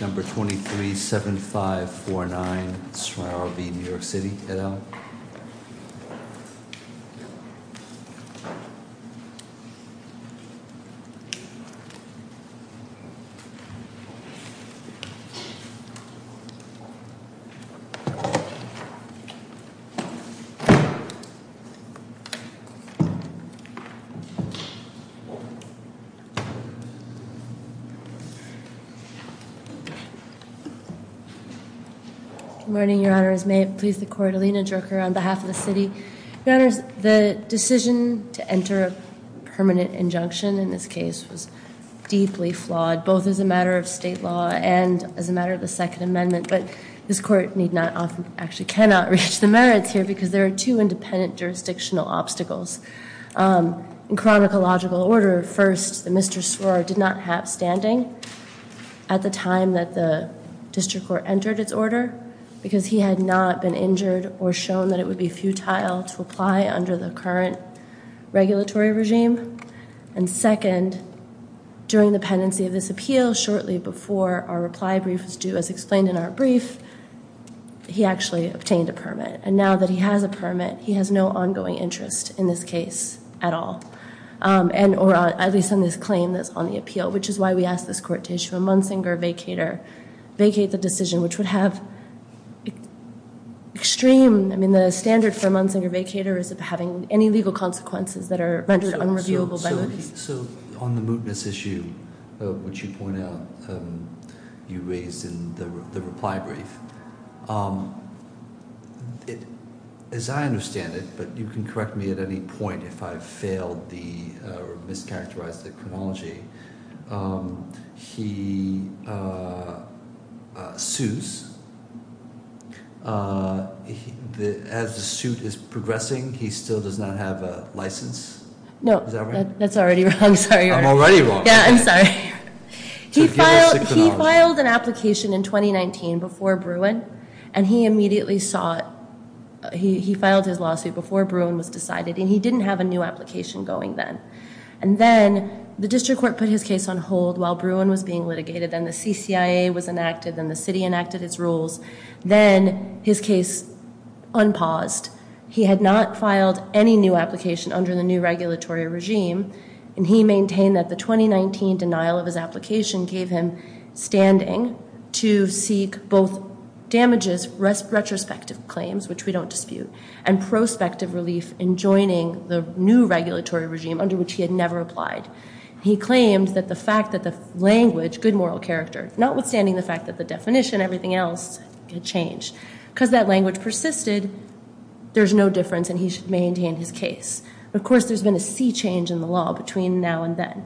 Number 237549, Srour v. New York City, et al. Good morning, Your Honors. May it please the Court, Alina Drucker on behalf of the City. Your Honors, the decision to enter a permanent injunction in this case was deeply flawed, both as a matter of state law and as a matter of the Second Amendment. But this Court need not, actually cannot, reach the merits here because there are two independent jurisdictional obstacles. In chronological order, first, that Mr. Srour did not have standing at the time that the District Court entered its order because he had not been injured or shown that it would be futile to apply under the current regulatory regime. And second, during the pendency of this appeal, shortly before our reply brief was due, as explained in our brief, he actually obtained a permit. And now that he has a permit, he has no ongoing interest in this case at all. Or at least on this claim that's on the appeal, which is why we asked this Court to issue a Munsinger vacater, vacate the decision, which would have extreme, I mean, the standard for a Munsinger vacater is of having any legal consequences that are rendered unreviewable. So on the mootness issue, which you point out you raised in the reply brief, as I understand it, but you can correct me at any point if I've failed or mischaracterized the chronology, he sues. As the suit is progressing, he still does not have a license? No, that's already wrong. Sorry. I'm already wrong. Yeah, I'm sorry. He filed an application in 2019 before Bruin, and he immediately saw it. He filed his lawsuit before Bruin was decided, and he didn't have a new application going then. And then the District Court put his case on hold while Bruin was being litigated. Then the CCIA was enacted. Then the city enacted its rules. Then his case unpaused. He had not filed any new application under the new regulatory regime, and he maintained that the 2019 denial of his application gave him standing to seek both damages, retrospective claims, which we don't dispute, and prospective relief in joining the new regulatory regime under which he had never applied. He claimed that the fact that the language, good moral character, notwithstanding the fact that the definition, everything else had changed, because that language persisted, there's no difference and he should maintain his case. Of course, there's been a sea change in the law between now and then,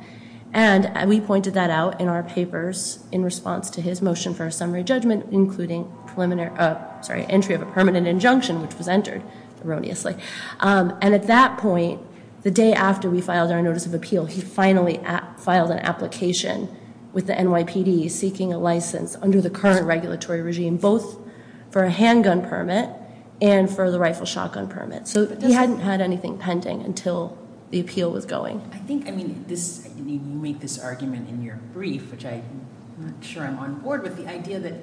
and we pointed that out in our papers in response to his motion for a summary judgment, including entry of a permanent injunction, which was entered erroneously. And at that point, the day after we filed our notice of appeal, he finally filed an application with the NYPD seeking a license under the current regulatory regime, both for a handgun permit and for the rifle shotgun permit. So he hadn't had anything pending until the appeal was going. I think, I mean, you make this argument in your brief, which I'm not sure I'm on board with, but the idea that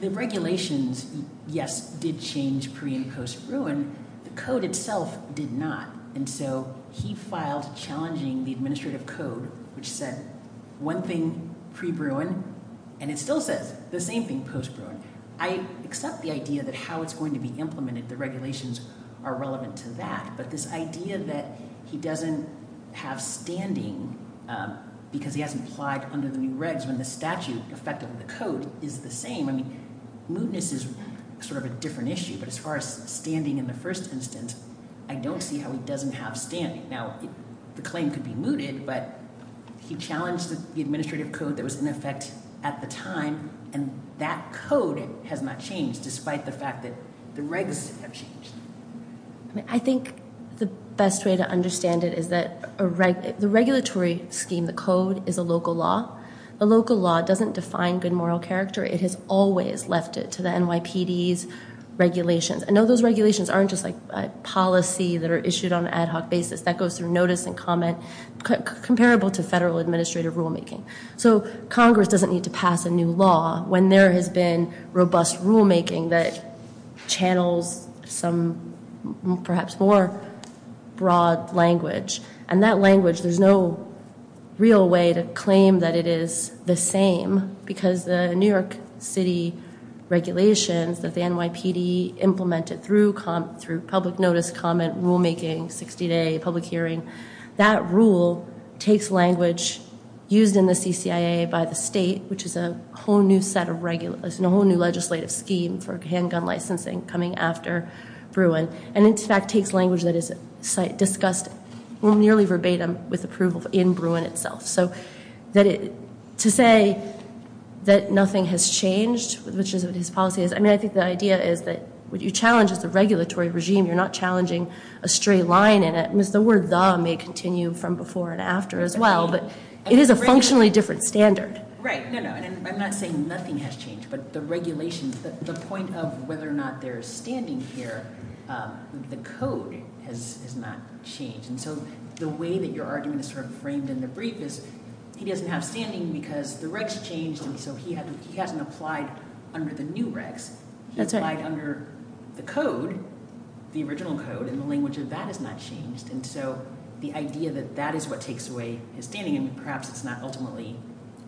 the regulations, yes, did change pre- and post-Bruin, the code itself did not. And so he filed challenging the administrative code, which said one thing pre-Bruin, and it still says the same thing post-Bruin. I accept the idea that how it's going to be implemented, the regulations are relevant to that, but this idea that he doesn't have standing because he hasn't applied under the new regs when the statute, effectively the code, is the same, I mean, mootness is sort of a different issue. But as far as standing in the first instance, I don't see how he doesn't have standing. Now, the claim could be mooted, but he challenged the administrative code that was in effect at the time, and that code has not changed despite the fact that the regs have changed. I think the best way to understand it is that the regulatory scheme, the code, is a local law. The local law doesn't define good moral character. It has always left it to the NYPD's regulations. I know those regulations aren't just like policy that are issued on an ad hoc basis. That goes through notice and comment comparable to federal administrative rulemaking. So Congress doesn't need to pass a new law when there has been robust rulemaking that channels some perhaps more broad language. And that language, there's no real way to claim that it is the same because the New York City regulations that the NYPD implemented through public notice, comment, rulemaking, 60-day public hearing, that rule takes language used in the CCIA by the state, which is a whole new legislative scheme for handgun licensing coming after Bruin, and in fact takes language that is discussed nearly verbatim with approval in Bruin itself. So to say that nothing has changed, which is what his policy is, I mean, I think the idea is that what you challenge is the regulatory regime. You're not challenging a stray line in it. The word the may continue from before and after as well, but it is a functionally different standard. Right. No, no. I'm not saying nothing has changed, but the regulations, the point of whether or not they're standing here, the code has not changed. And so the way that your argument is sort of framed in the brief is he doesn't have standing because the regs changed, and so he hasn't applied under the new regs. That's right. He applied under the code, the original code, and the language of that has not changed. And so the idea that that is what takes away his standing, and perhaps it's not ultimately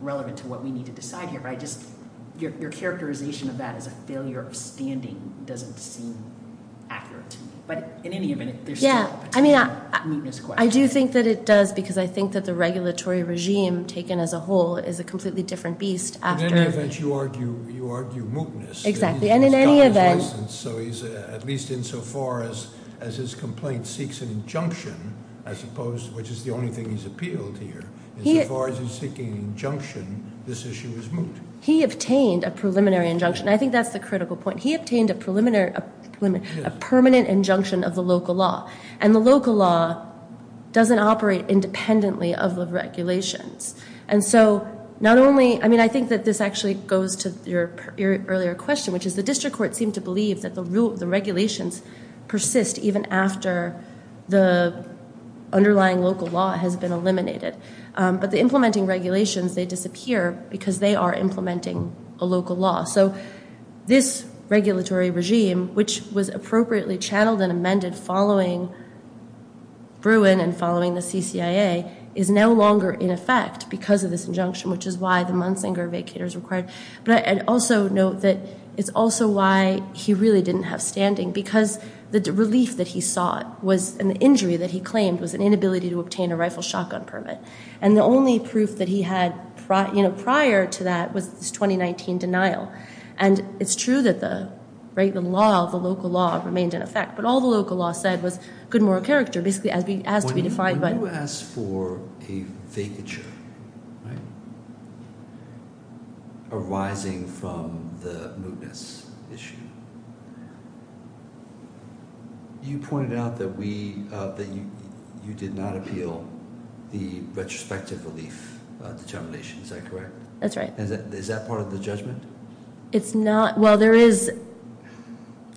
relevant to what we need to decide here, but your characterization of that as a failure of standing doesn't seem accurate to me. But in any event, there's still a particular mootness question. I do think that it does because I think that the regulatory regime taken as a whole is a completely different beast. In any event, you argue mootness. Exactly, and in any event. At least insofar as his complaint seeks an injunction, I suppose, which is the only thing he's appealed here. Insofar as he's seeking an injunction, this issue is moot. He obtained a preliminary injunction. I think that's the critical point. He obtained a permanent injunction of the local law, and the local law doesn't operate independently of the regulations. I think that this actually goes to your earlier question, which is the district court seemed to believe that the regulations persist even after the underlying local law has been eliminated. But the implementing regulations, they disappear because they are implementing a local law. So this regulatory regime, which was appropriately channeled and amended following Bruin and following the CCIA, is no longer in effect because of this injunction, which is why the Munsinger vacater is required. But I'd also note that it's also why he really didn't have standing, because the relief that he sought and the injury that he claimed was an inability to obtain a rifle shotgun permit. And the only proof that he had prior to that was this 2019 denial. And it's true that the law, the local law, remained in effect. But all the local law said was good moral character, basically as to be defined by- When you asked for a vacature arising from the mootness issue, you pointed out that you did not appeal the retrospective relief determination. Is that correct? That's right. Is that part of the judgment? It's not. Well, there is.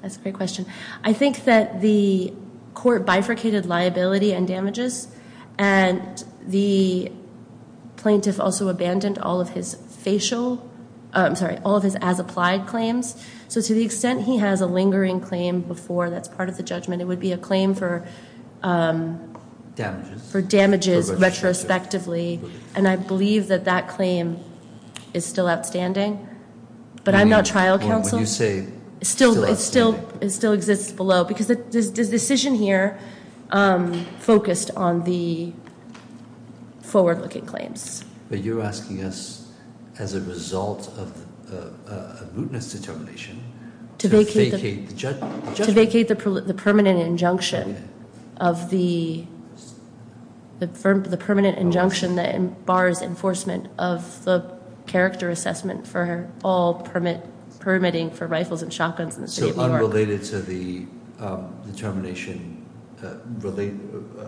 That's a great question. I think that the court bifurcated liability and damages. And the plaintiff also abandoned all of his as-applied claims. So to the extent he has a lingering claim before, that's part of the judgment. It would be a claim for damages retrospectively. And I believe that that claim is still outstanding. But I'm not trial counsel. When you say- It still exists below. Because the decision here focused on the forward-looking claims. But you're asking us, as a result of a mootness determination, to vacate the judgment. To vacate the permanent injunction that bars enforcement of the character assessment for all permitting for rifles and shotguns in the city of New York. So unrelated to the determination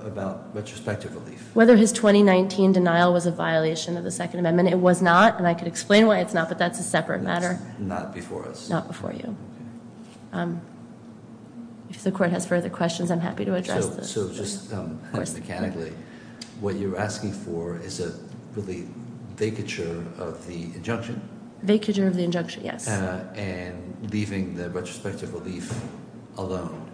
about retrospective relief. Whether his 2019 denial was a violation of the Second Amendment, it was not. And I could explain why it's not, but that's a separate matter. It's not before us. Not before you. If the court has further questions, I'm happy to address this. So just mechanically, what you're asking for is a vacature of the injunction. Vacature of the injunction, yes. And leaving the retrospective relief alone.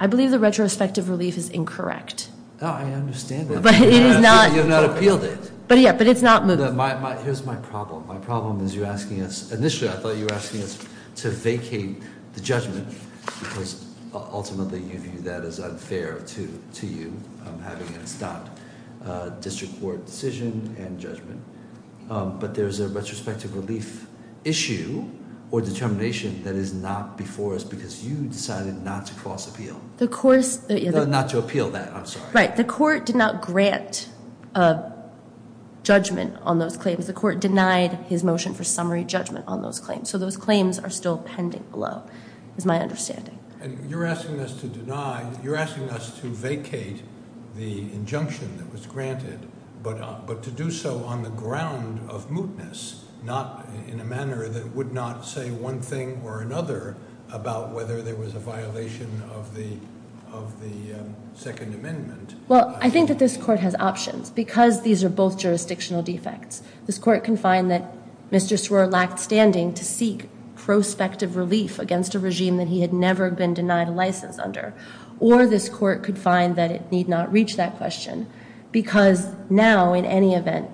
I believe the retrospective relief is incorrect. I understand that. But it is not- You have not appealed it. But yeah, but it's not moot. Here's my problem. My problem is you're asking us, initially I thought you were asking us to vacate the judgment. Because ultimately you view that as unfair to you, having it stop district court decision and judgment. But there's a retrospective relief issue or determination that is not before us because you decided not to cross appeal. The course- Not to appeal that, I'm sorry. Right. The court did not grant judgment on those claims. The court denied his motion for summary judgment on those claims. So those claims are still pending below, is my understanding. You're asking us to vacate the injunction that was granted, but to do so on the ground of mootness. In a manner that would not say one thing or another about whether there was a violation of the Second Amendment. Well, I think that this court has options because these are both jurisdictional defects. This court can find that Mr. Swer lacked standing to seek prospective relief against a regime that he had never been denied a license under. Or this court could find that it need not reach that question. Because now, in any event,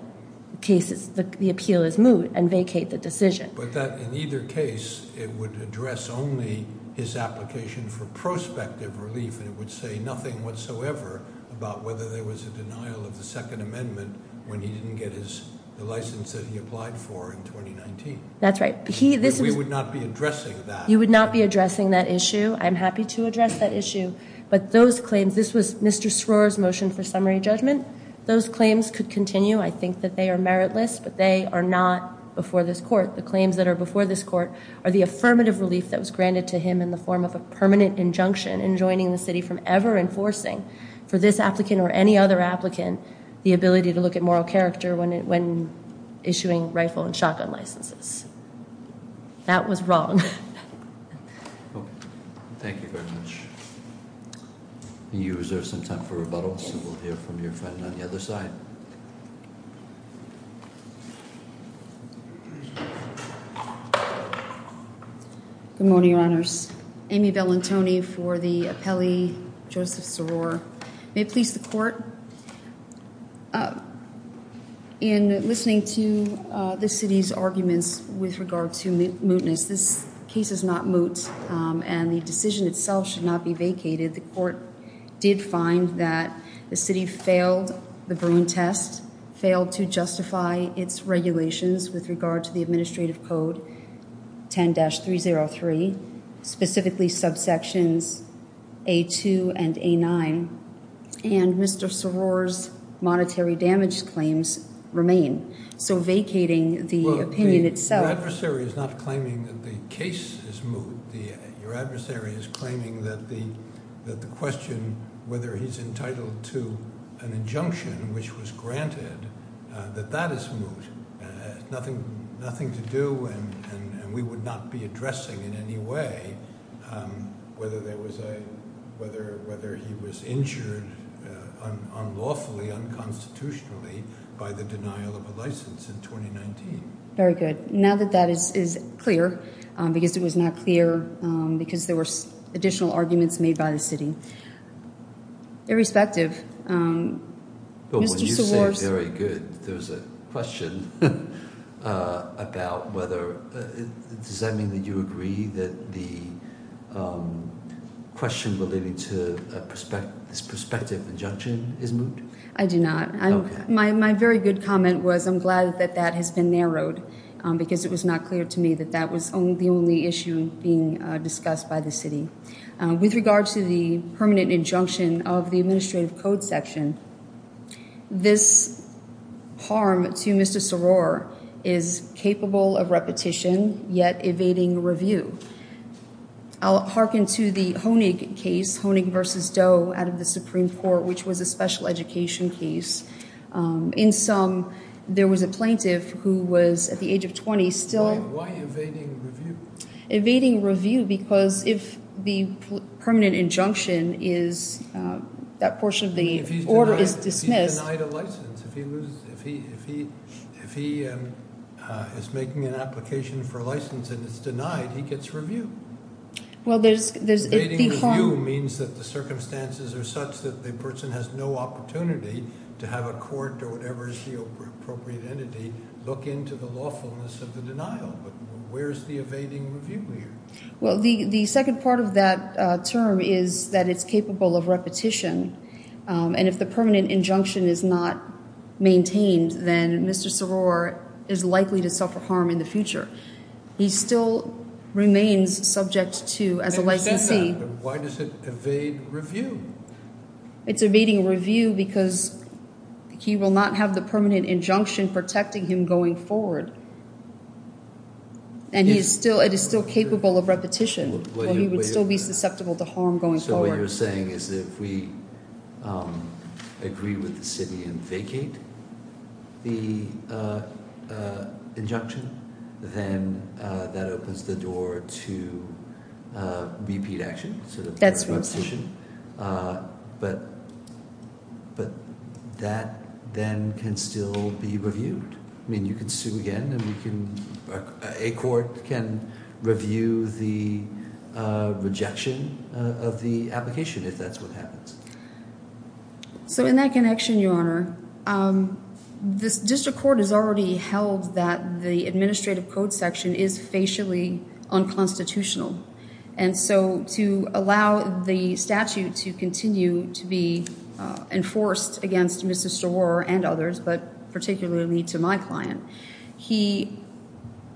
the appeal is moot and vacate the decision. But in either case, it would address only his application for prospective relief. And it would say nothing whatsoever about whether there was a denial of the Second Amendment when he didn't get the license that he applied for in 2019. That's right. We would not be addressing that. You would not be addressing that issue. I'm happy to address that issue. But those claims, this was Mr. Swer's motion for summary judgment. Those claims could continue. I think that they are meritless. But they are not before this court. The claims that are before this court are the affirmative relief that was granted to him in the form of a permanent injunction enjoining the city from ever enforcing, for this applicant or any other applicant, the ability to look at moral character when issuing rifle and shotgun licenses. That was wrong. Thank you very much. Do you reserve some time for rebuttals? We'll hear from your friend on the other side. Good morning, Your Honors. Amy Bellantoni for the appellee, Joseph Soror. May it please the court. In listening to the city's arguments with regard to mootness, this case is not moot and the decision itself should not be vacated. The court did find that the city failed the Bruin test, failed to justify its regulations with regard to the administrative code 10-303, specifically subsections A2 and A9, and Mr. Soror's monetary damage claims remain. So vacating the opinion itself. Your adversary is not claiming that the case is moot. Your adversary is claiming that the question whether he's entitled to an injunction, which was granted, that that is moot. Nothing to do and we would not be addressing in any way whether he was injured unlawfully, unconstitutionally, by the denial of a license in 2019. Very good. Now that that is clear, because it was not clear because there were additional arguments made by the city. Irrespective. Mr. Soror. When you say very good, there's a question about whether, does that mean that you agree that the question relating to this prospective injunction is moot? I do not. My very good comment was I'm glad that that has been narrowed because it was not clear to me that that was the only issue being discussed by the city. With regard to the permanent injunction of the administrative code section, this harm to Mr. Soror is capable of repetition, yet evading review. I'll hearken to the Honig case, Honig versus Doe out of the Supreme Court, which was a special education case. In some, there was a plaintiff who was at the age of 20 still. Why evading review? Evading review because if the permanent injunction is, that portion of the order is dismissed. If he's denied a license, if he is making an application for a license and it's denied, he gets review. Well, there's- Evading review means that the circumstances are such that the person has no opportunity to have a court or whatever is the appropriate entity look into the lawfulness of the denial. But where's the evading review here? Well, the second part of that term is that it's capable of repetition. And if the permanent injunction is not maintained, then Mr. Soror is likely to suffer harm in the future. He still remains subject to, as a licensee- Why does it evade review? It's evading review because he will not have the permanent injunction protecting him going forward. And he is still, it is still capable of repetition. He would still be susceptible to harm going forward. So what you're saying is if we agree with the city and vacate the injunction, then that opens the door to repeat action. That's what I'm saying. But that then can still be reviewed. I mean, you can sue again, and a court can review the rejection of the application if that's what happens. So in that connection, Your Honor, this district court has already held that the administrative code section is facially unconstitutional. And so to allow the statute to continue to be enforced against Mr. Soror and others, but particularly to my client,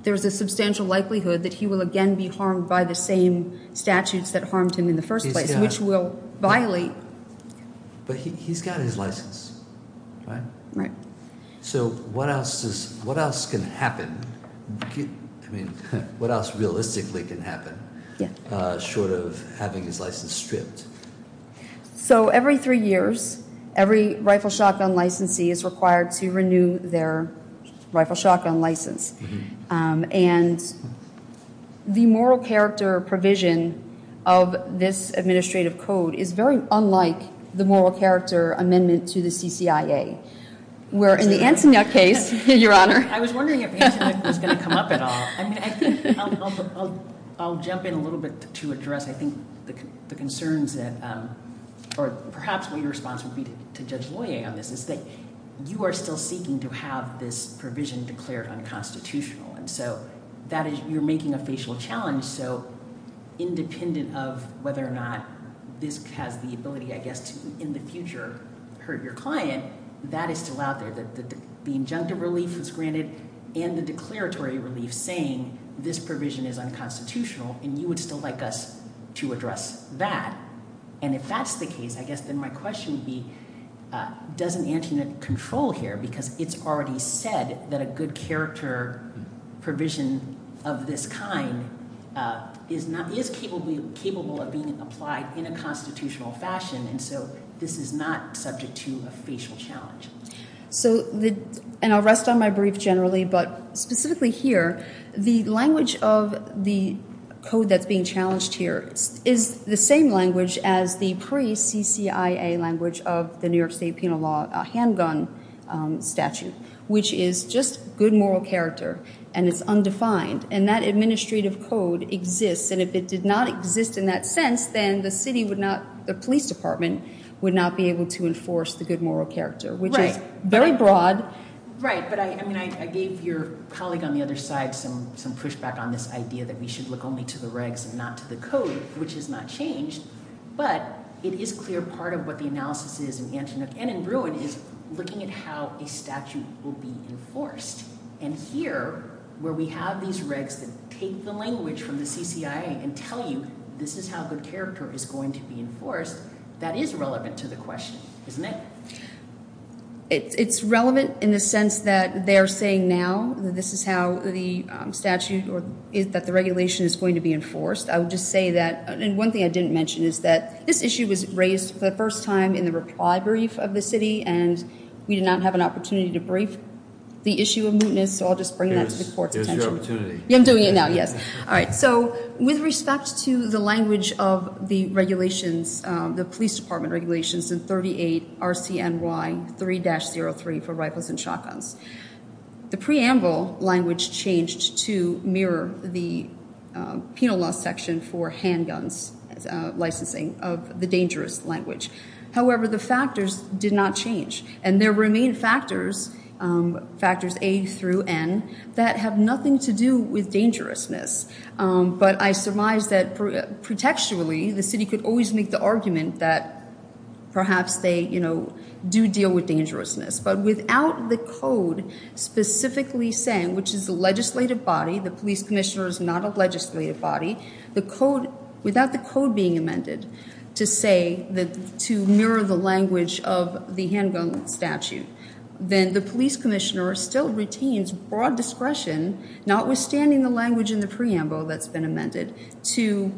there's a substantial likelihood that he will again be harmed by the same statutes that harmed him in the first place, which will violate- But he's got his license, right? Right. So what else can happen? I mean, what else realistically can happen short of having his license stripped? So every three years, every rifle shotgun licensee is required to renew their rifle shotgun license. And the moral character provision of this administrative code is very unlike the moral character amendment to the CCIA. Where in the Antoinette case, Your Honor- I was wondering if Antoinette was going to come up at all. I mean, I think I'll jump in a little bit to address, I think, the concerns that- Or perhaps what your response would be to Judge Loyer on this is that you are still seeking to have this provision declared unconstitutional. And so you're making a facial challenge. So independent of whether or not this has the ability, I guess, to in the future hurt your client, that is still out there. The injunctive relief was granted and the declaratory relief saying this provision is unconstitutional, and you would still like us to address that. And if that's the case, I guess then my question would be, does an Antoinette control here? Because it's already said that a good character provision of this kind is capable of being applied in a constitutional fashion. And so this is not subject to a facial challenge. And I'll rest on my brief generally, but specifically here, the language of the code that's being challenged here is the same language as the pre-CCIA language of the New York State Penal Law handgun statute, which is just good moral character, and it's undefined. And that administrative code exists. And if it did not exist in that sense, then the city would not-the police department would not be able to enforce the good moral character. Right. Which is very broad. Right. But, I mean, I gave your colleague on the other side some pushback on this idea that we should look only to the regs and not to the code, which has not changed. But it is clear part of what the analysis is in Antoinette and in Bruin is looking at how a statute will be enforced. And here, where we have these regs that take the language from the CCIA and tell you this is how good character is going to be enforced, that is relevant to the question, isn't it? It's relevant in the sense that they're saying now that this is how the statute or that the regulation is going to be enforced. And one thing I didn't mention is that this issue was raised for the first time in the reply brief of the city. And we did not have an opportunity to brief the issue of mootness, so I'll just bring that to the court's attention. Here's your opportunity. I'm doing it now, yes. All right. So, with respect to the language of the regulations, the police department regulations in 38 RCNY 3-03 for rifles and shotguns, the preamble language changed to mirror the penal law section for handguns licensing of the dangerous language. However, the factors did not change. And there remain factors, factors A through N, that have nothing to do with dangerousness. But I surmise that pretextually the city could always make the argument that perhaps they, you know, do deal with dangerousness. But without the code specifically saying, which is the legislative body, the police commissioner is not a legislative body, the code, without the code being amended to say that to mirror the language of the handgun statute, then the police commissioner still retains broad discretion, notwithstanding the language in the preamble that's been amended, to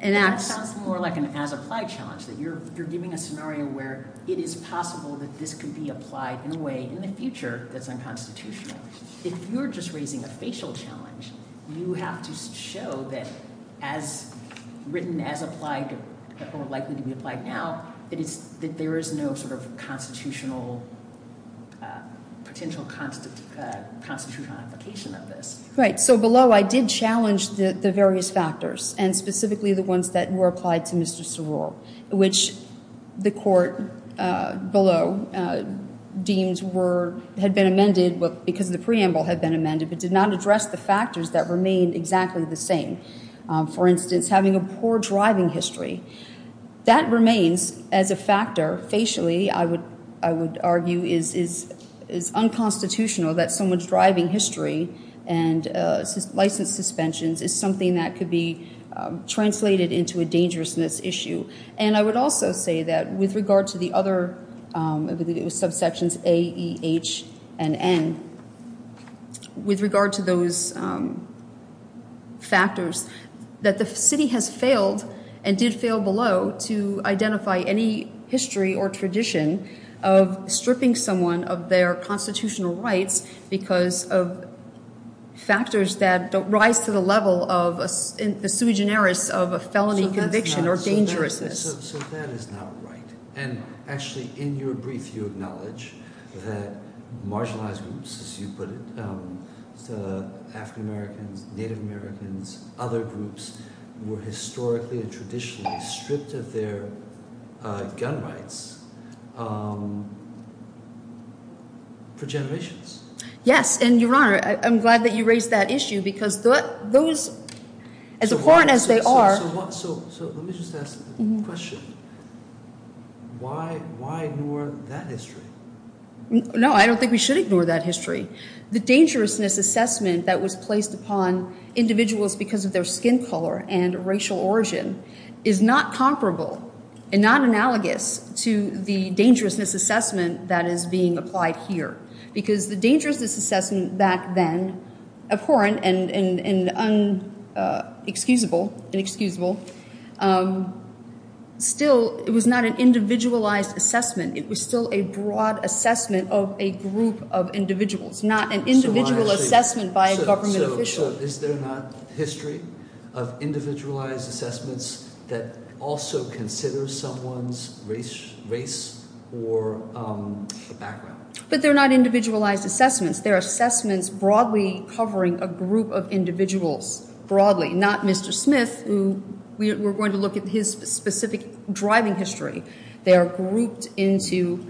enact. That sounds more like an as-applied challenge, that you're giving a scenario where it is possible that this could be applied in a way in the future that's unconstitutional. If you're just raising a facial challenge, you have to show that as written, as applied, or likely to be applied now, that there is no sort of constitutional, potential constitutional application of this. Right. So below, I did challenge the various factors, and specifically the ones that were applied to Mr. Soror, which the court below deemed were, had been amended because the preamble had been amended, but did not address the factors that remained exactly the same. For instance, having a poor driving history. That remains as a factor. Facially, I would argue, is unconstitutional that someone's driving history and license suspensions is something that could be translated into a dangerousness issue. And I would also say that with regard to the other, I believe it was subsections A, E, H, and N, with regard to those factors, that the city has failed, and did fail below, to identify any history or tradition of stripping someone of their constitutional rights because of factors that don't rise to the level of a sui generis of a felony conviction or dangerousness. So that is not right. And actually, in your brief, you acknowledge that marginalized groups, as you put it, African-Americans, Native Americans, other groups, were historically and traditionally stripped of their gun rights for generations. Yes, and Your Honor, I'm glad that you raised that issue because those, as abhorrent as they are… So let me just ask the question. Why ignore that history? No, I don't think we should ignore that history. The dangerousness assessment that was placed upon individuals because of their skin color and racial origin is not comparable and not analogous to the dangerousness assessment that is being applied here. Because the dangerousness assessment back then, abhorrent and inexcusable, still – it was not an individualized assessment. It was still a broad assessment of a group of individuals, not an individual assessment by a government official. So is there not history of individualized assessments that also consider someone's race or background? But they're not individualized assessments. They're assessments broadly covering a group of individuals, broadly, not Mr. Smith, who we're going to look at his specific driving history. They are grouped into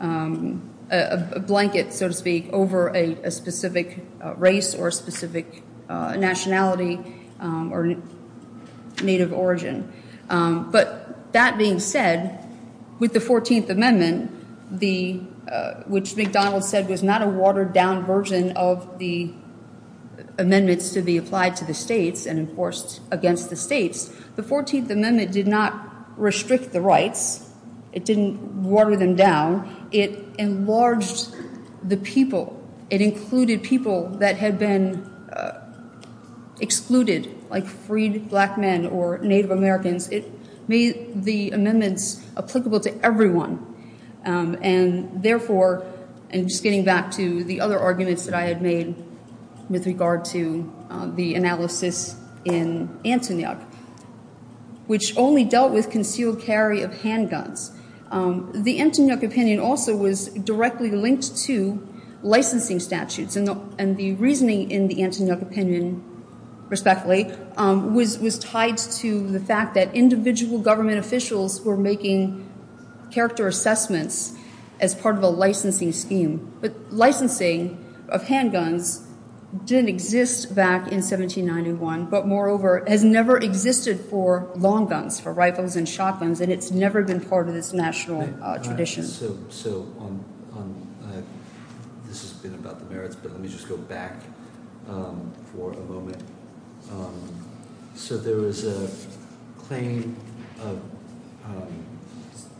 a blanket, so to speak, over a specific race or a specific nationality or native origin. But that being said, with the 14th Amendment, which McDonald said was not a watered-down version of the amendments to be applied to the states and enforced against the states, the 14th Amendment did not restrict the rights. It didn't water them down. It enlarged the people. It included people that had been excluded, like freed black men or Native Americans. It made the amendments applicable to everyone. And therefore – and just getting back to the other arguments that I had made with regard to the analysis in Antonyuk, which only dealt with concealed carry of handguns. The Antonyuk opinion also was directly linked to licensing statutes. And the reasoning in the Antonyuk opinion, respectfully, was tied to the fact that individual government officials were making character assessments as part of a licensing scheme. But licensing of handguns didn't exist back in 1791, but moreover, has never existed for long guns, for rifles and shotguns, and it's never been part of this national tradition. So on – this has been about the merits, but let me just go back for a moment. So there was a claim of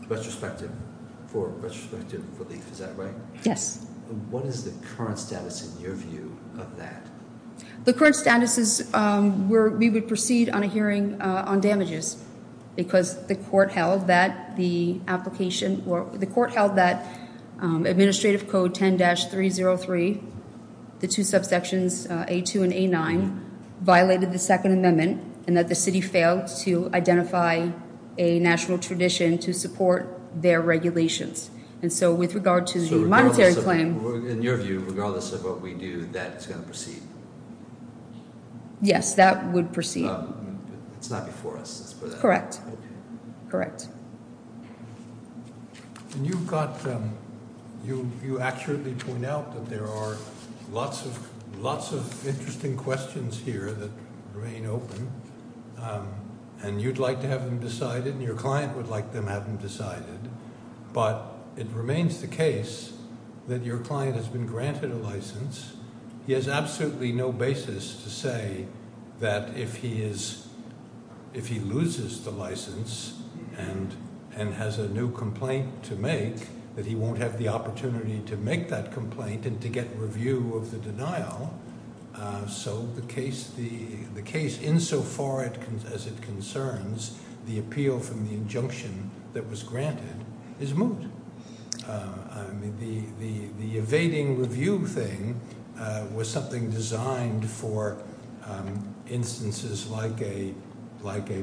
retrospective – for retrospective relief. Is that right? Yes. What is the current status in your view of that? The current status is we would proceed on a hearing on damages because the court held that the application – the court held that Administrative Code 10-303, the two subsections, A2 and A9, violated the Second Amendment and that the city failed to identify a national tradition to support their regulations. And so with regard to the monetary claim – Yes, that would proceed. It's not before us. Correct. Correct. And you've got – you accurately point out that there are lots of interesting questions here that remain open, and you'd like to have them decided and your client would like to have them decided. But it remains the case that your client has been granted a license. He has absolutely no basis to say that if he is – if he loses the license and has a new complaint to make, that he won't have the opportunity to make that complaint and to get review of the denial. So the case insofar as it concerns the appeal from the injunction that was granted is moot. The evading review thing was something designed for instances like a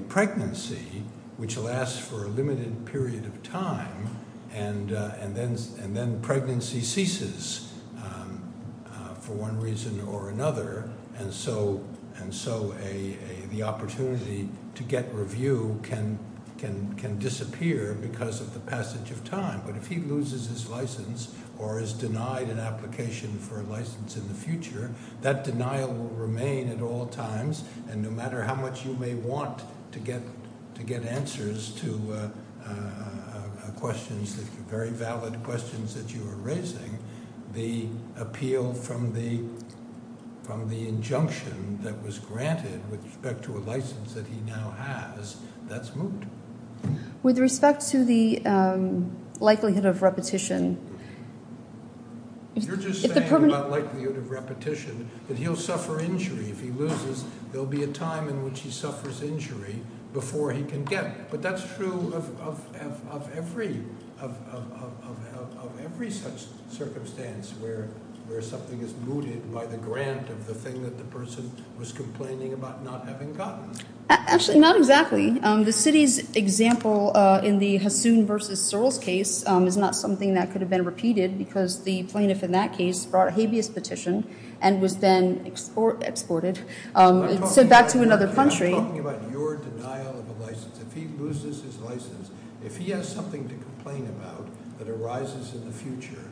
pregnancy, which lasts for a limited period of time, and then pregnancy ceases for one reason or another. And so the opportunity to get review can disappear because of the passage of time. But if he loses his license or is denied an application for a license in the future, that denial will remain at all times. And no matter how much you may want to get answers to questions, very valid questions that you are raising, the appeal from the injunction that was granted with respect to a license that he now has, that's moot. With respect to the likelihood of repetition – You're just saying about likelihood of repetition that he'll suffer injury. If he loses, there will be a time in which he suffers injury before he can get. But that's true of every such circumstance where something is mooted by the grant of the thing that the person was complaining about not having gotten. Actually, not exactly. The city's example in the Hasoon v. Searles case is not something that could have been repeated because the plaintiff in that case brought a habeas petition and was then exported, sent back to another country. I'm talking about your denial of a license. If he loses his license, if he has something to complain about that arises in the future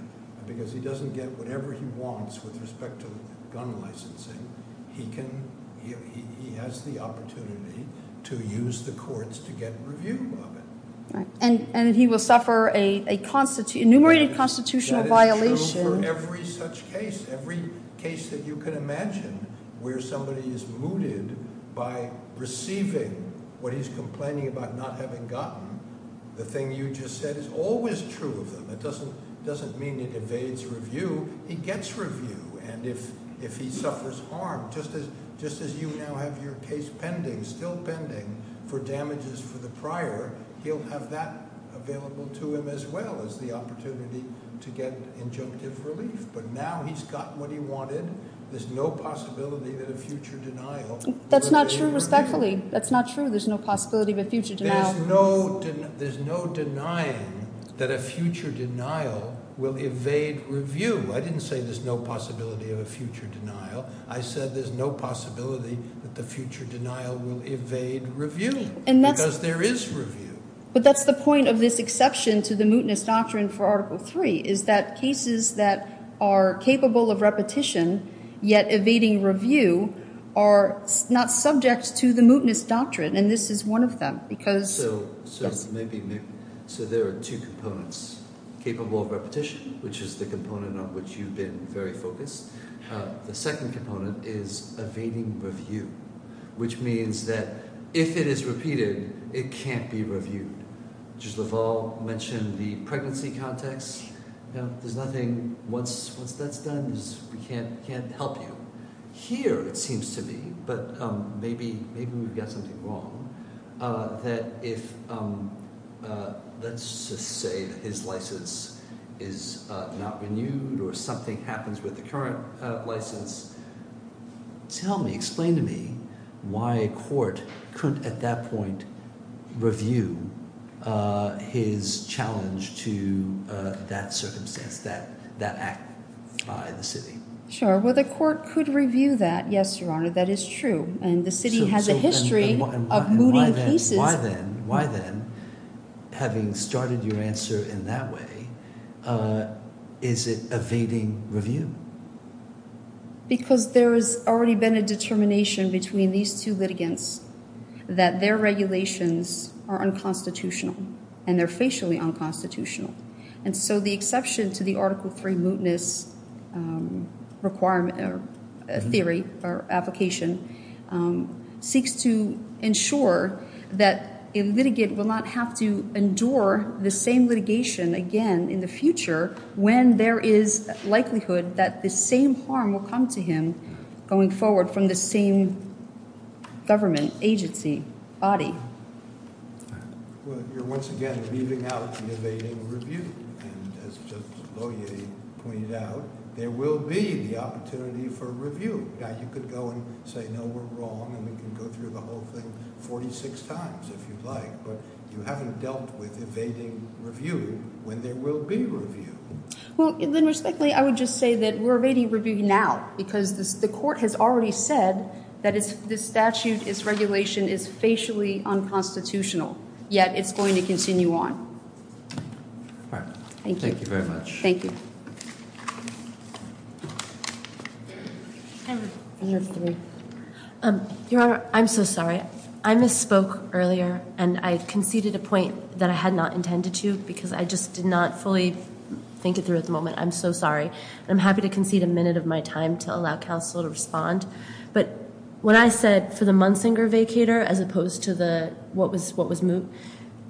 because he doesn't get whatever he wants with respect to gun licensing, he has the opportunity to use the courts to get review of it. And he will suffer a enumerated constitutional violation. That's true for every such case. Every case that you can imagine where somebody is mooted by receiving what he's complaining about not having gotten, the thing you just said is always true of them. It doesn't mean it evades review. He gets review. And if he suffers harm, just as you now have your case pending, still pending, for damages for the prior, he'll have that available to him as well as the opportunity to get injunctive relief. But now he's gotten what he wanted. There's no possibility that a future denial- That's not true, respectfully. That's not true. There's no possibility of a future denial. There's no denying that a future denial will evade review. I didn't say there's no possibility of a future denial. I said there's no possibility that the future denial will evade review because there is review. But that's the point of this exception to the mootness doctrine for Article III is that cases that are capable of repetition yet evading review are not subject to the mootness doctrine. And this is one of them because- So there are two components. Capable of repetition, which is the component on which you've been very focused. The second component is evading review, which means that if it is repeated, it can't be reviewed. Judge LaValle mentioned the pregnancy context. Once that's done, we can't help you. Here, it seems to me, but maybe we've got something wrong, that if, let's just say that his license is not renewed or something happens with the current license, tell me, explain to me why a court couldn't at that point review his challenge to that circumstance, that act by the city. Sure. Well, the court could review that. Yes, Your Honor, that is true. And the city has a history of mooting cases. Why then, having started your answer in that way, is it evading review? Because there has already been a determination between these two litigants that their regulations are unconstitutional and they're facially unconstitutional. And so the exception to the Article III mootness theory or application seeks to ensure that a litigant will not have to endure the same litigation again in the future when there is likelihood that the same harm will come to him going forward from the same government agency body. Well, you're once again leaving out the evading review. And as Justice Lohier pointed out, there will be the opportunity for review. Now, you could go and say, no, we're wrong, and we can go through the whole thing 46 times if you'd like, but you haven't dealt with evading review when there will be review. Well, then respectfully, I would just say that we're evading review now because the court has already said that this statute, this regulation is facially unconstitutional, yet it's going to continue on. Thank you very much. Thank you. Your Honor, I'm so sorry. I misspoke earlier, and I conceded a point that I had not intended to because I just did not fully think it through at the moment. I'm so sorry. I'm happy to concede a minute of my time to allow counsel to respond. But when I said for the Munsinger vacator, as opposed to the what was what was moot,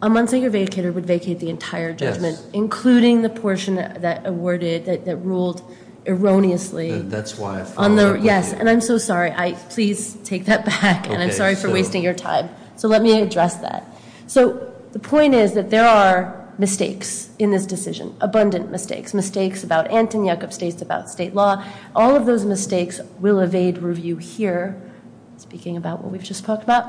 a Munsinger vacator would vacate the entire judgment, including the portion that awarded. That ruled erroneously. That's why I followed up on you. Yes, and I'm so sorry. Please take that back, and I'm sorry for wasting your time. So let me address that. So the point is that there are mistakes in this decision, abundant mistakes, mistakes about Ant and Yuckup states, about state law. All of those mistakes will evade review here, speaking about what we've just talked about,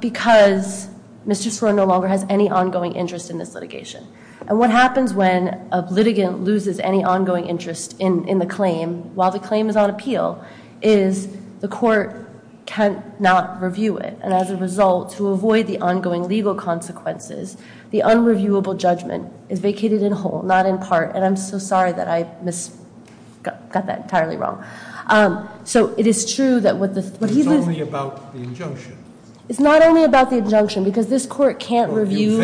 because Mr. Sorrell no longer has any ongoing interest in this litigation. And what happens when a litigant loses any ongoing interest in the claim, while the claim is on appeal, is the court cannot review it. And as a result, to avoid the ongoing legal consequences, the unreviewable judgment is vacated in whole, not in part. And I'm so sorry that I got that entirely wrong. So it is true that what he... It's only about the injunction. It's not only about the injunction, because this court can't review...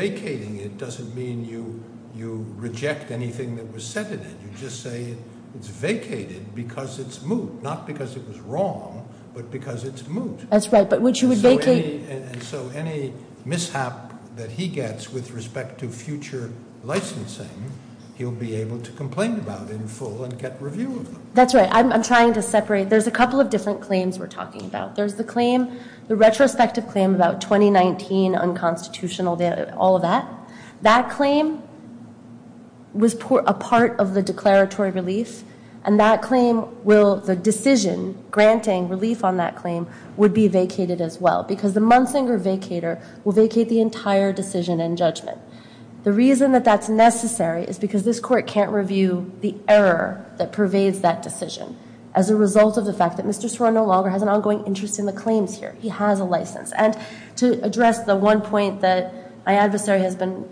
Vacating it doesn't mean you reject anything that was said in it. You just say it's vacated because it's moot. Not because it was wrong, but because it's moot. That's right, but what you would vacate... So any mishap that he gets with respect to future licensing, he'll be able to complain about in full and get review of them. That's right. I'm trying to separate. There's a couple of different claims we're talking about. There's the claim, the retrospective claim about 2019 unconstitutional, all of that. That claim was a part of the declaratory relief, and that claim will... The decision granting relief on that claim would be vacated as well, because the Munsinger vacator will vacate the entire decision and judgment. The reason that that's necessary is because this court can't review the error that pervades that decision as a result of the fact that Mr. Sorren no longer has an ongoing interest in the claims here. He has a license. And to address the one point that my adversary has been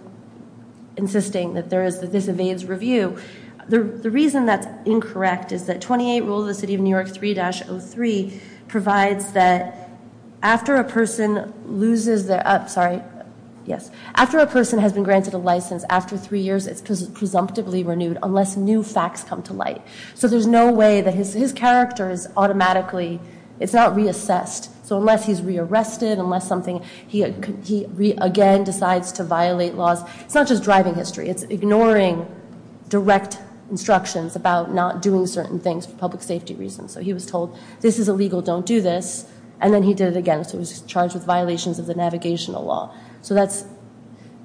insisting, that this evades review, the reason that's incorrect is that 28 Rule of the City of New York 3-03 provides that after a person loses their... Sorry. Yes. After a person has been granted a license after three years, it's presumptively renewed unless new facts come to light. So there's no way that his character is automatically... It's not reassessed. So unless he's rearrested, unless something... He again decides to violate laws. It's not just driving history. It's ignoring direct instructions about not doing certain things for public safety reasons. So he was told, this is illegal, don't do this. And then he did it again. So he was charged with violations of the navigational law. So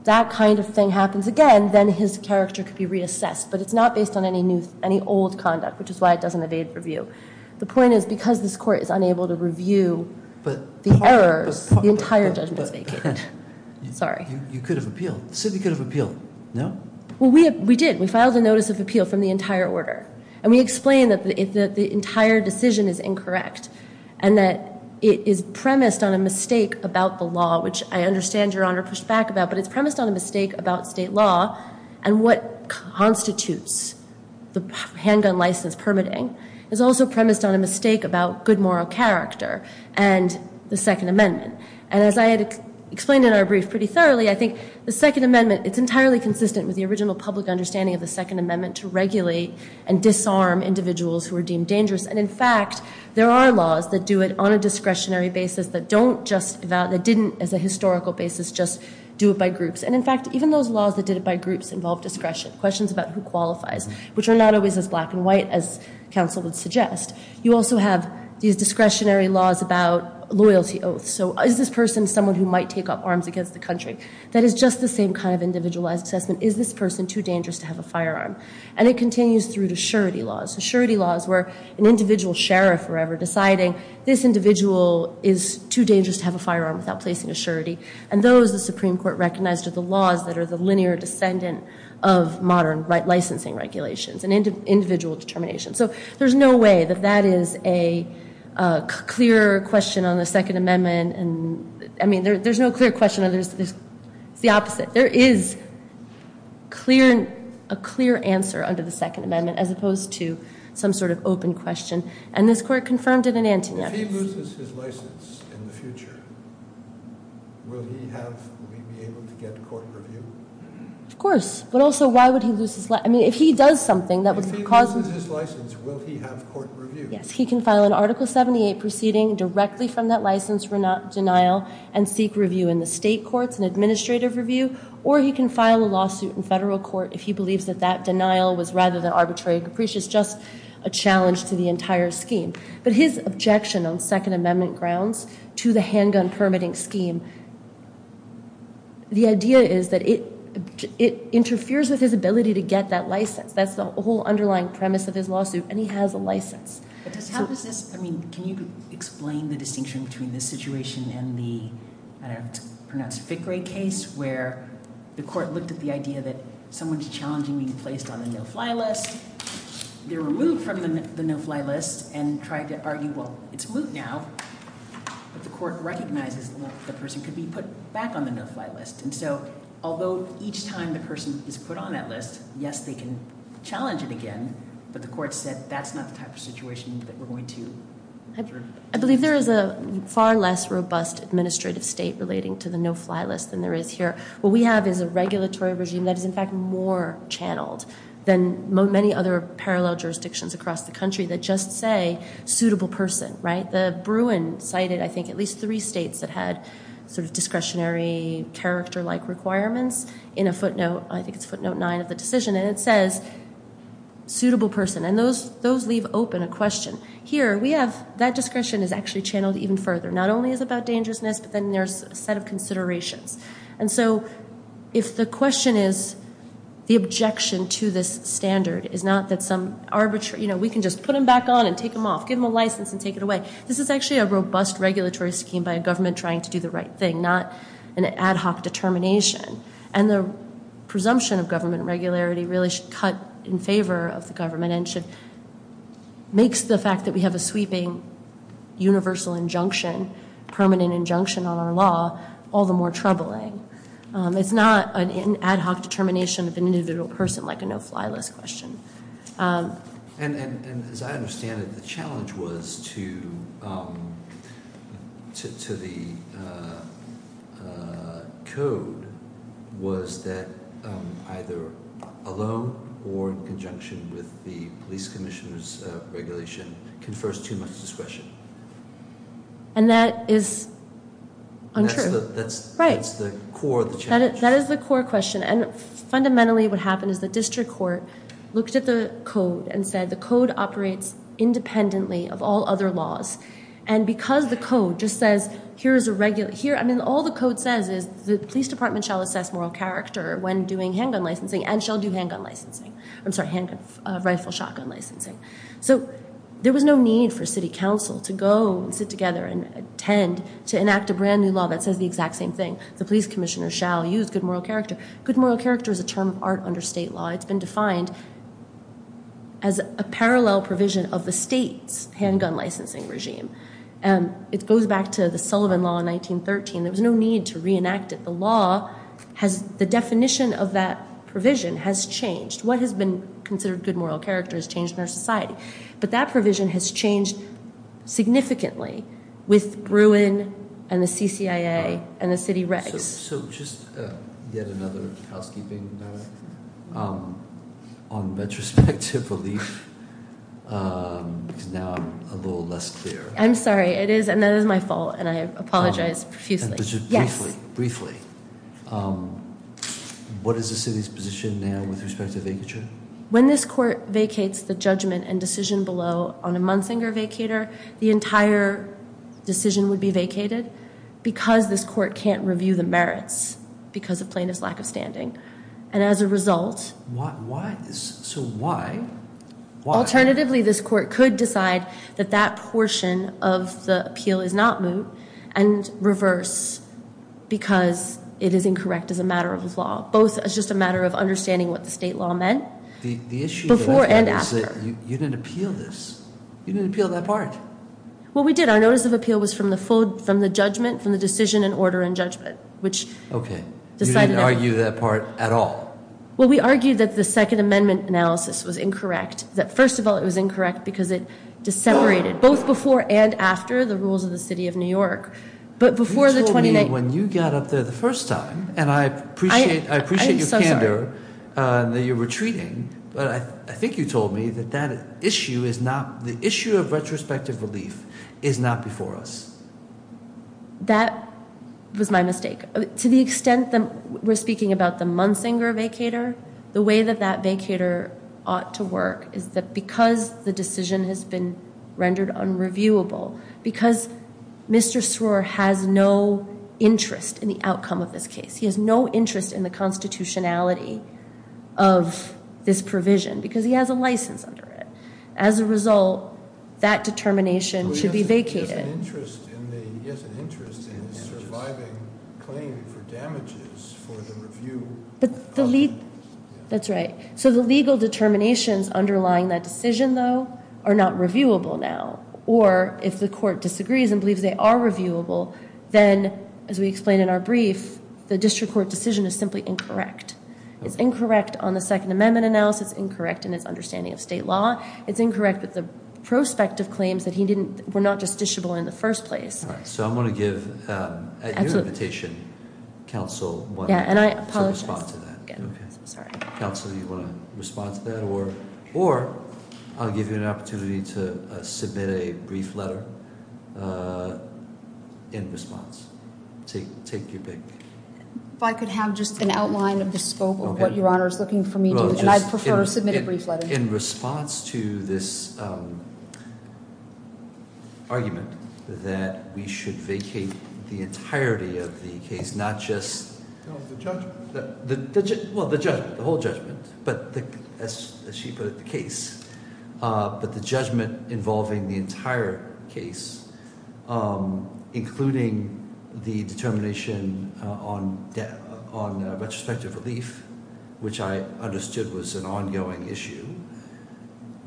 that kind of thing happens again. Then his character could be reassessed. But it's not based on any old conduct, which is why it doesn't evade review. The point is because this court is unable to review the errors, the entire judgment is vacant. Sorry. You could have appealed. The city could have appealed. No? Well, we did. We filed a notice of appeal from the entire order. And we explained that the entire decision is incorrect and that it is premised on a mistake about the law, which I understand Your Honor pushed back about. But it's premised on a mistake about state law and what constitutes the handgun license permitting. It's also premised on a mistake about good moral character and the Second Amendment. And as I had explained in our brief pretty thoroughly, I think the Second Amendment, it's entirely consistent with the original public understanding of the Second Amendment to regulate and disarm individuals who are deemed dangerous. And, in fact, there are laws that do it on a discretionary basis that don't just, that didn't as a historical basis just do it by groups. And, in fact, even those laws that did it by groups involved discretion, questions about who qualifies, which are not always as black and white as counsel would suggest. You also have these discretionary laws about loyalty oaths. So is this person someone who might take up arms against the country? That is just the same kind of individualized assessment. Is this person too dangerous to have a firearm? And it continues through to surety laws. Surety laws where an individual sheriff were ever deciding, this individual is too dangerous to have a firearm without placing a surety. And those the Supreme Court recognized are the laws that are the linear descendant of modern licensing regulations and individual determination. So there's no way that that is a clear question on the Second Amendment. And, I mean, there's no clear question. It's the opposite. There is a clear answer under the Second Amendment as opposed to some sort of open question. And this Court confirmed it in antinatal. If he loses his license in the future, will he have, will he be able to get court review? Of course. But, also, why would he lose his license? I mean, if he does something that would cause If he loses his license, will he have court review? Yes. He can file an Article 78 proceeding directly from that license for denial and seek review in the state courts and administrative review. Or he can file a lawsuit in federal court if he believes that that denial was, rather than arbitrary capricious, just a challenge to the entire scheme. But his objection on Second Amendment grounds to the handgun permitting scheme, the idea is that it interferes with his ability to get that license. That's the whole underlying premise of his lawsuit. And he has a license. But how does this, I mean, can you explain the distinction between this situation and the, I don't know if it's pronounced Fickrey case, where the court looked at the idea that someone's challenging being placed on the no-fly list. They're removed from the no-fly list and tried to argue, well, it's moot now. But the court recognizes that the person could be put back on the no-fly list. And so, although each time the person is put on that list, yes, they can challenge it again. But the court said that's not the type of situation that we're going to observe. I believe there is a far less robust administrative state relating to the no-fly list than there is here. What we have is a regulatory regime that is, in fact, more channeled than many other parallel jurisdictions across the country that just say suitable person, right? The Bruin cited, I think, at least three states that had sort of discretionary character-like requirements in a footnote, I think it's footnote 9 of the decision. And it says suitable person. And those leave open a question. Here, we have that discretion is actually channeled even further. Not only is it about dangerousness, but then there's a set of considerations. And so, if the question is the objection to this standard is not that some arbitrary, you know, we can just put them back on and take them off, give them a license and take it away. This is actually a robust regulatory scheme by a government trying to do the right thing, not an ad hoc determination. And the presumption of government regularity really should cut in favor of the government and makes the fact that we have a sweeping universal injunction, permanent injunction on our law, all the more troubling. It's not an ad hoc determination of an individual person like a no-fly list question. And as I understand it, the challenge was to the code was that either alone or in conjunction with the police commissioner's regulation confers too much discretion. And that is untrue. That's the core of the challenge. That is the core question. And fundamentally what happened is the district court looked at the code and said the code operates independently of all other laws. And because the code just says here is a regular, here, I mean, all the code says is the police department shall assess moral character when doing handgun licensing and shall do handgun licensing. I'm sorry, handgun, rifle, shotgun licensing. So, there was no need for city council to go and sit together and tend to enact a brand new law that says the exact same thing. The police commissioner shall use good moral character. Good moral character is a term of art under state law. It's been defined as a parallel provision of the state's handgun licensing regime. It goes back to the Sullivan Law in 1913. There was no need to reenact it. The law has the definition of that provision has changed. What has been considered good moral character has changed in our society. But that provision has changed significantly with Bruin and the CCIA and the city regs. So, just yet another housekeeping matter. On retrospective relief, because now I'm a little less clear. I'm sorry. It is, and that is my fault, and I apologize profusely. Briefly, briefly. What is the city's position now with respect to vacature? When this court vacates the judgment and decision below on a Munsinger vacator, the entire decision would be vacated because this court can't review the merits because of plaintiff's lack of standing. And as a result. Why? So, why? Alternatively, this court could decide that that portion of the appeal is not moot and reverse because it is incorrect as a matter of law. Both as just a matter of understanding what the state law meant. The issue is that you didn't appeal this. You didn't appeal that part. Well, we did. Our notice of appeal was from the judgment, from the decision and order and judgment. Okay. You didn't argue that part at all? Well, we argued that the second amendment analysis was incorrect. That, first of all, it was incorrect because it separated both before and after the rules of the city of New York. But before the- You told me when you got up there the first time, and I appreciate your candor. I'm so sorry. But I think you told me that that issue is not, the issue of retrospective relief is not before us. That was my mistake. To the extent that we're speaking about the Munsinger vacator, the way that that vacator ought to work is that because the decision has been rendered unreviewable, because Mr. Sroor has no interest in the outcome of this case. He has no interest in the constitutionality of this provision because he has a license under it. As a result, that determination should be vacated. He has an interest in the surviving claim for damages for the review. That's right. So the legal determinations underlying that decision, though, are not reviewable now. Or if the court disagrees and believes they are reviewable, then, as we explained in our brief, the district court decision is simply incorrect. It's incorrect on the Second Amendment analysis. It's incorrect in its understanding of state law. It's incorrect with the prospective claims that he didn't, were not justiciable in the first place. All right. So I'm going to give, at your invitation, counsel- Yeah, and I apologize. To respond to that. Okay. I'm sorry. Counsel, do you want to respond to that? Or I'll give you an opportunity to submit a brief letter in response. Take your pick. If I could have just an outline of the scope of what Your Honor is looking for me to do, and I'd prefer to submit a brief letter. In response to this argument that we should vacate the entirety of the case, not just- No, the judgment. Well, the judgment, the whole judgment, but as she put it, the case. But the judgment involving the entire case, including the determination on retrospective relief, which I understood was an ongoing issue.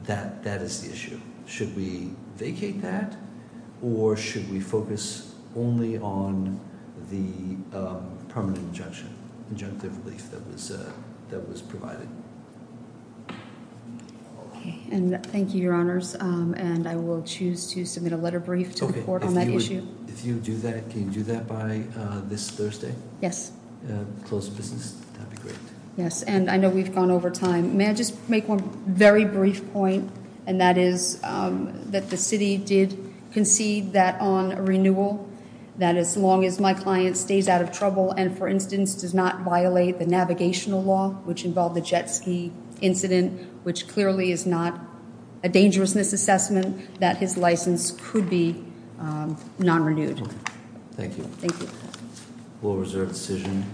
That is the issue. Should we vacate that, or should we focus only on the permanent injunction, injunctive relief that was provided? Thank you, Your Honors, and I will choose to submit a letter brief to the court on that issue. If you do that, can you do that by this Thursday? Yes. Closed business? That would be great. Yes, and I know we've gone over time. May I just make one very brief point, and that is that the city did concede that on renewal, that as long as my client stays out of trouble and, for instance, does not violate the navigational law, which involved the jet ski incident, which clearly is not a dangerousness assessment, that his license could be non-renewed. Thank you. Thank you. Rule of reserve decision.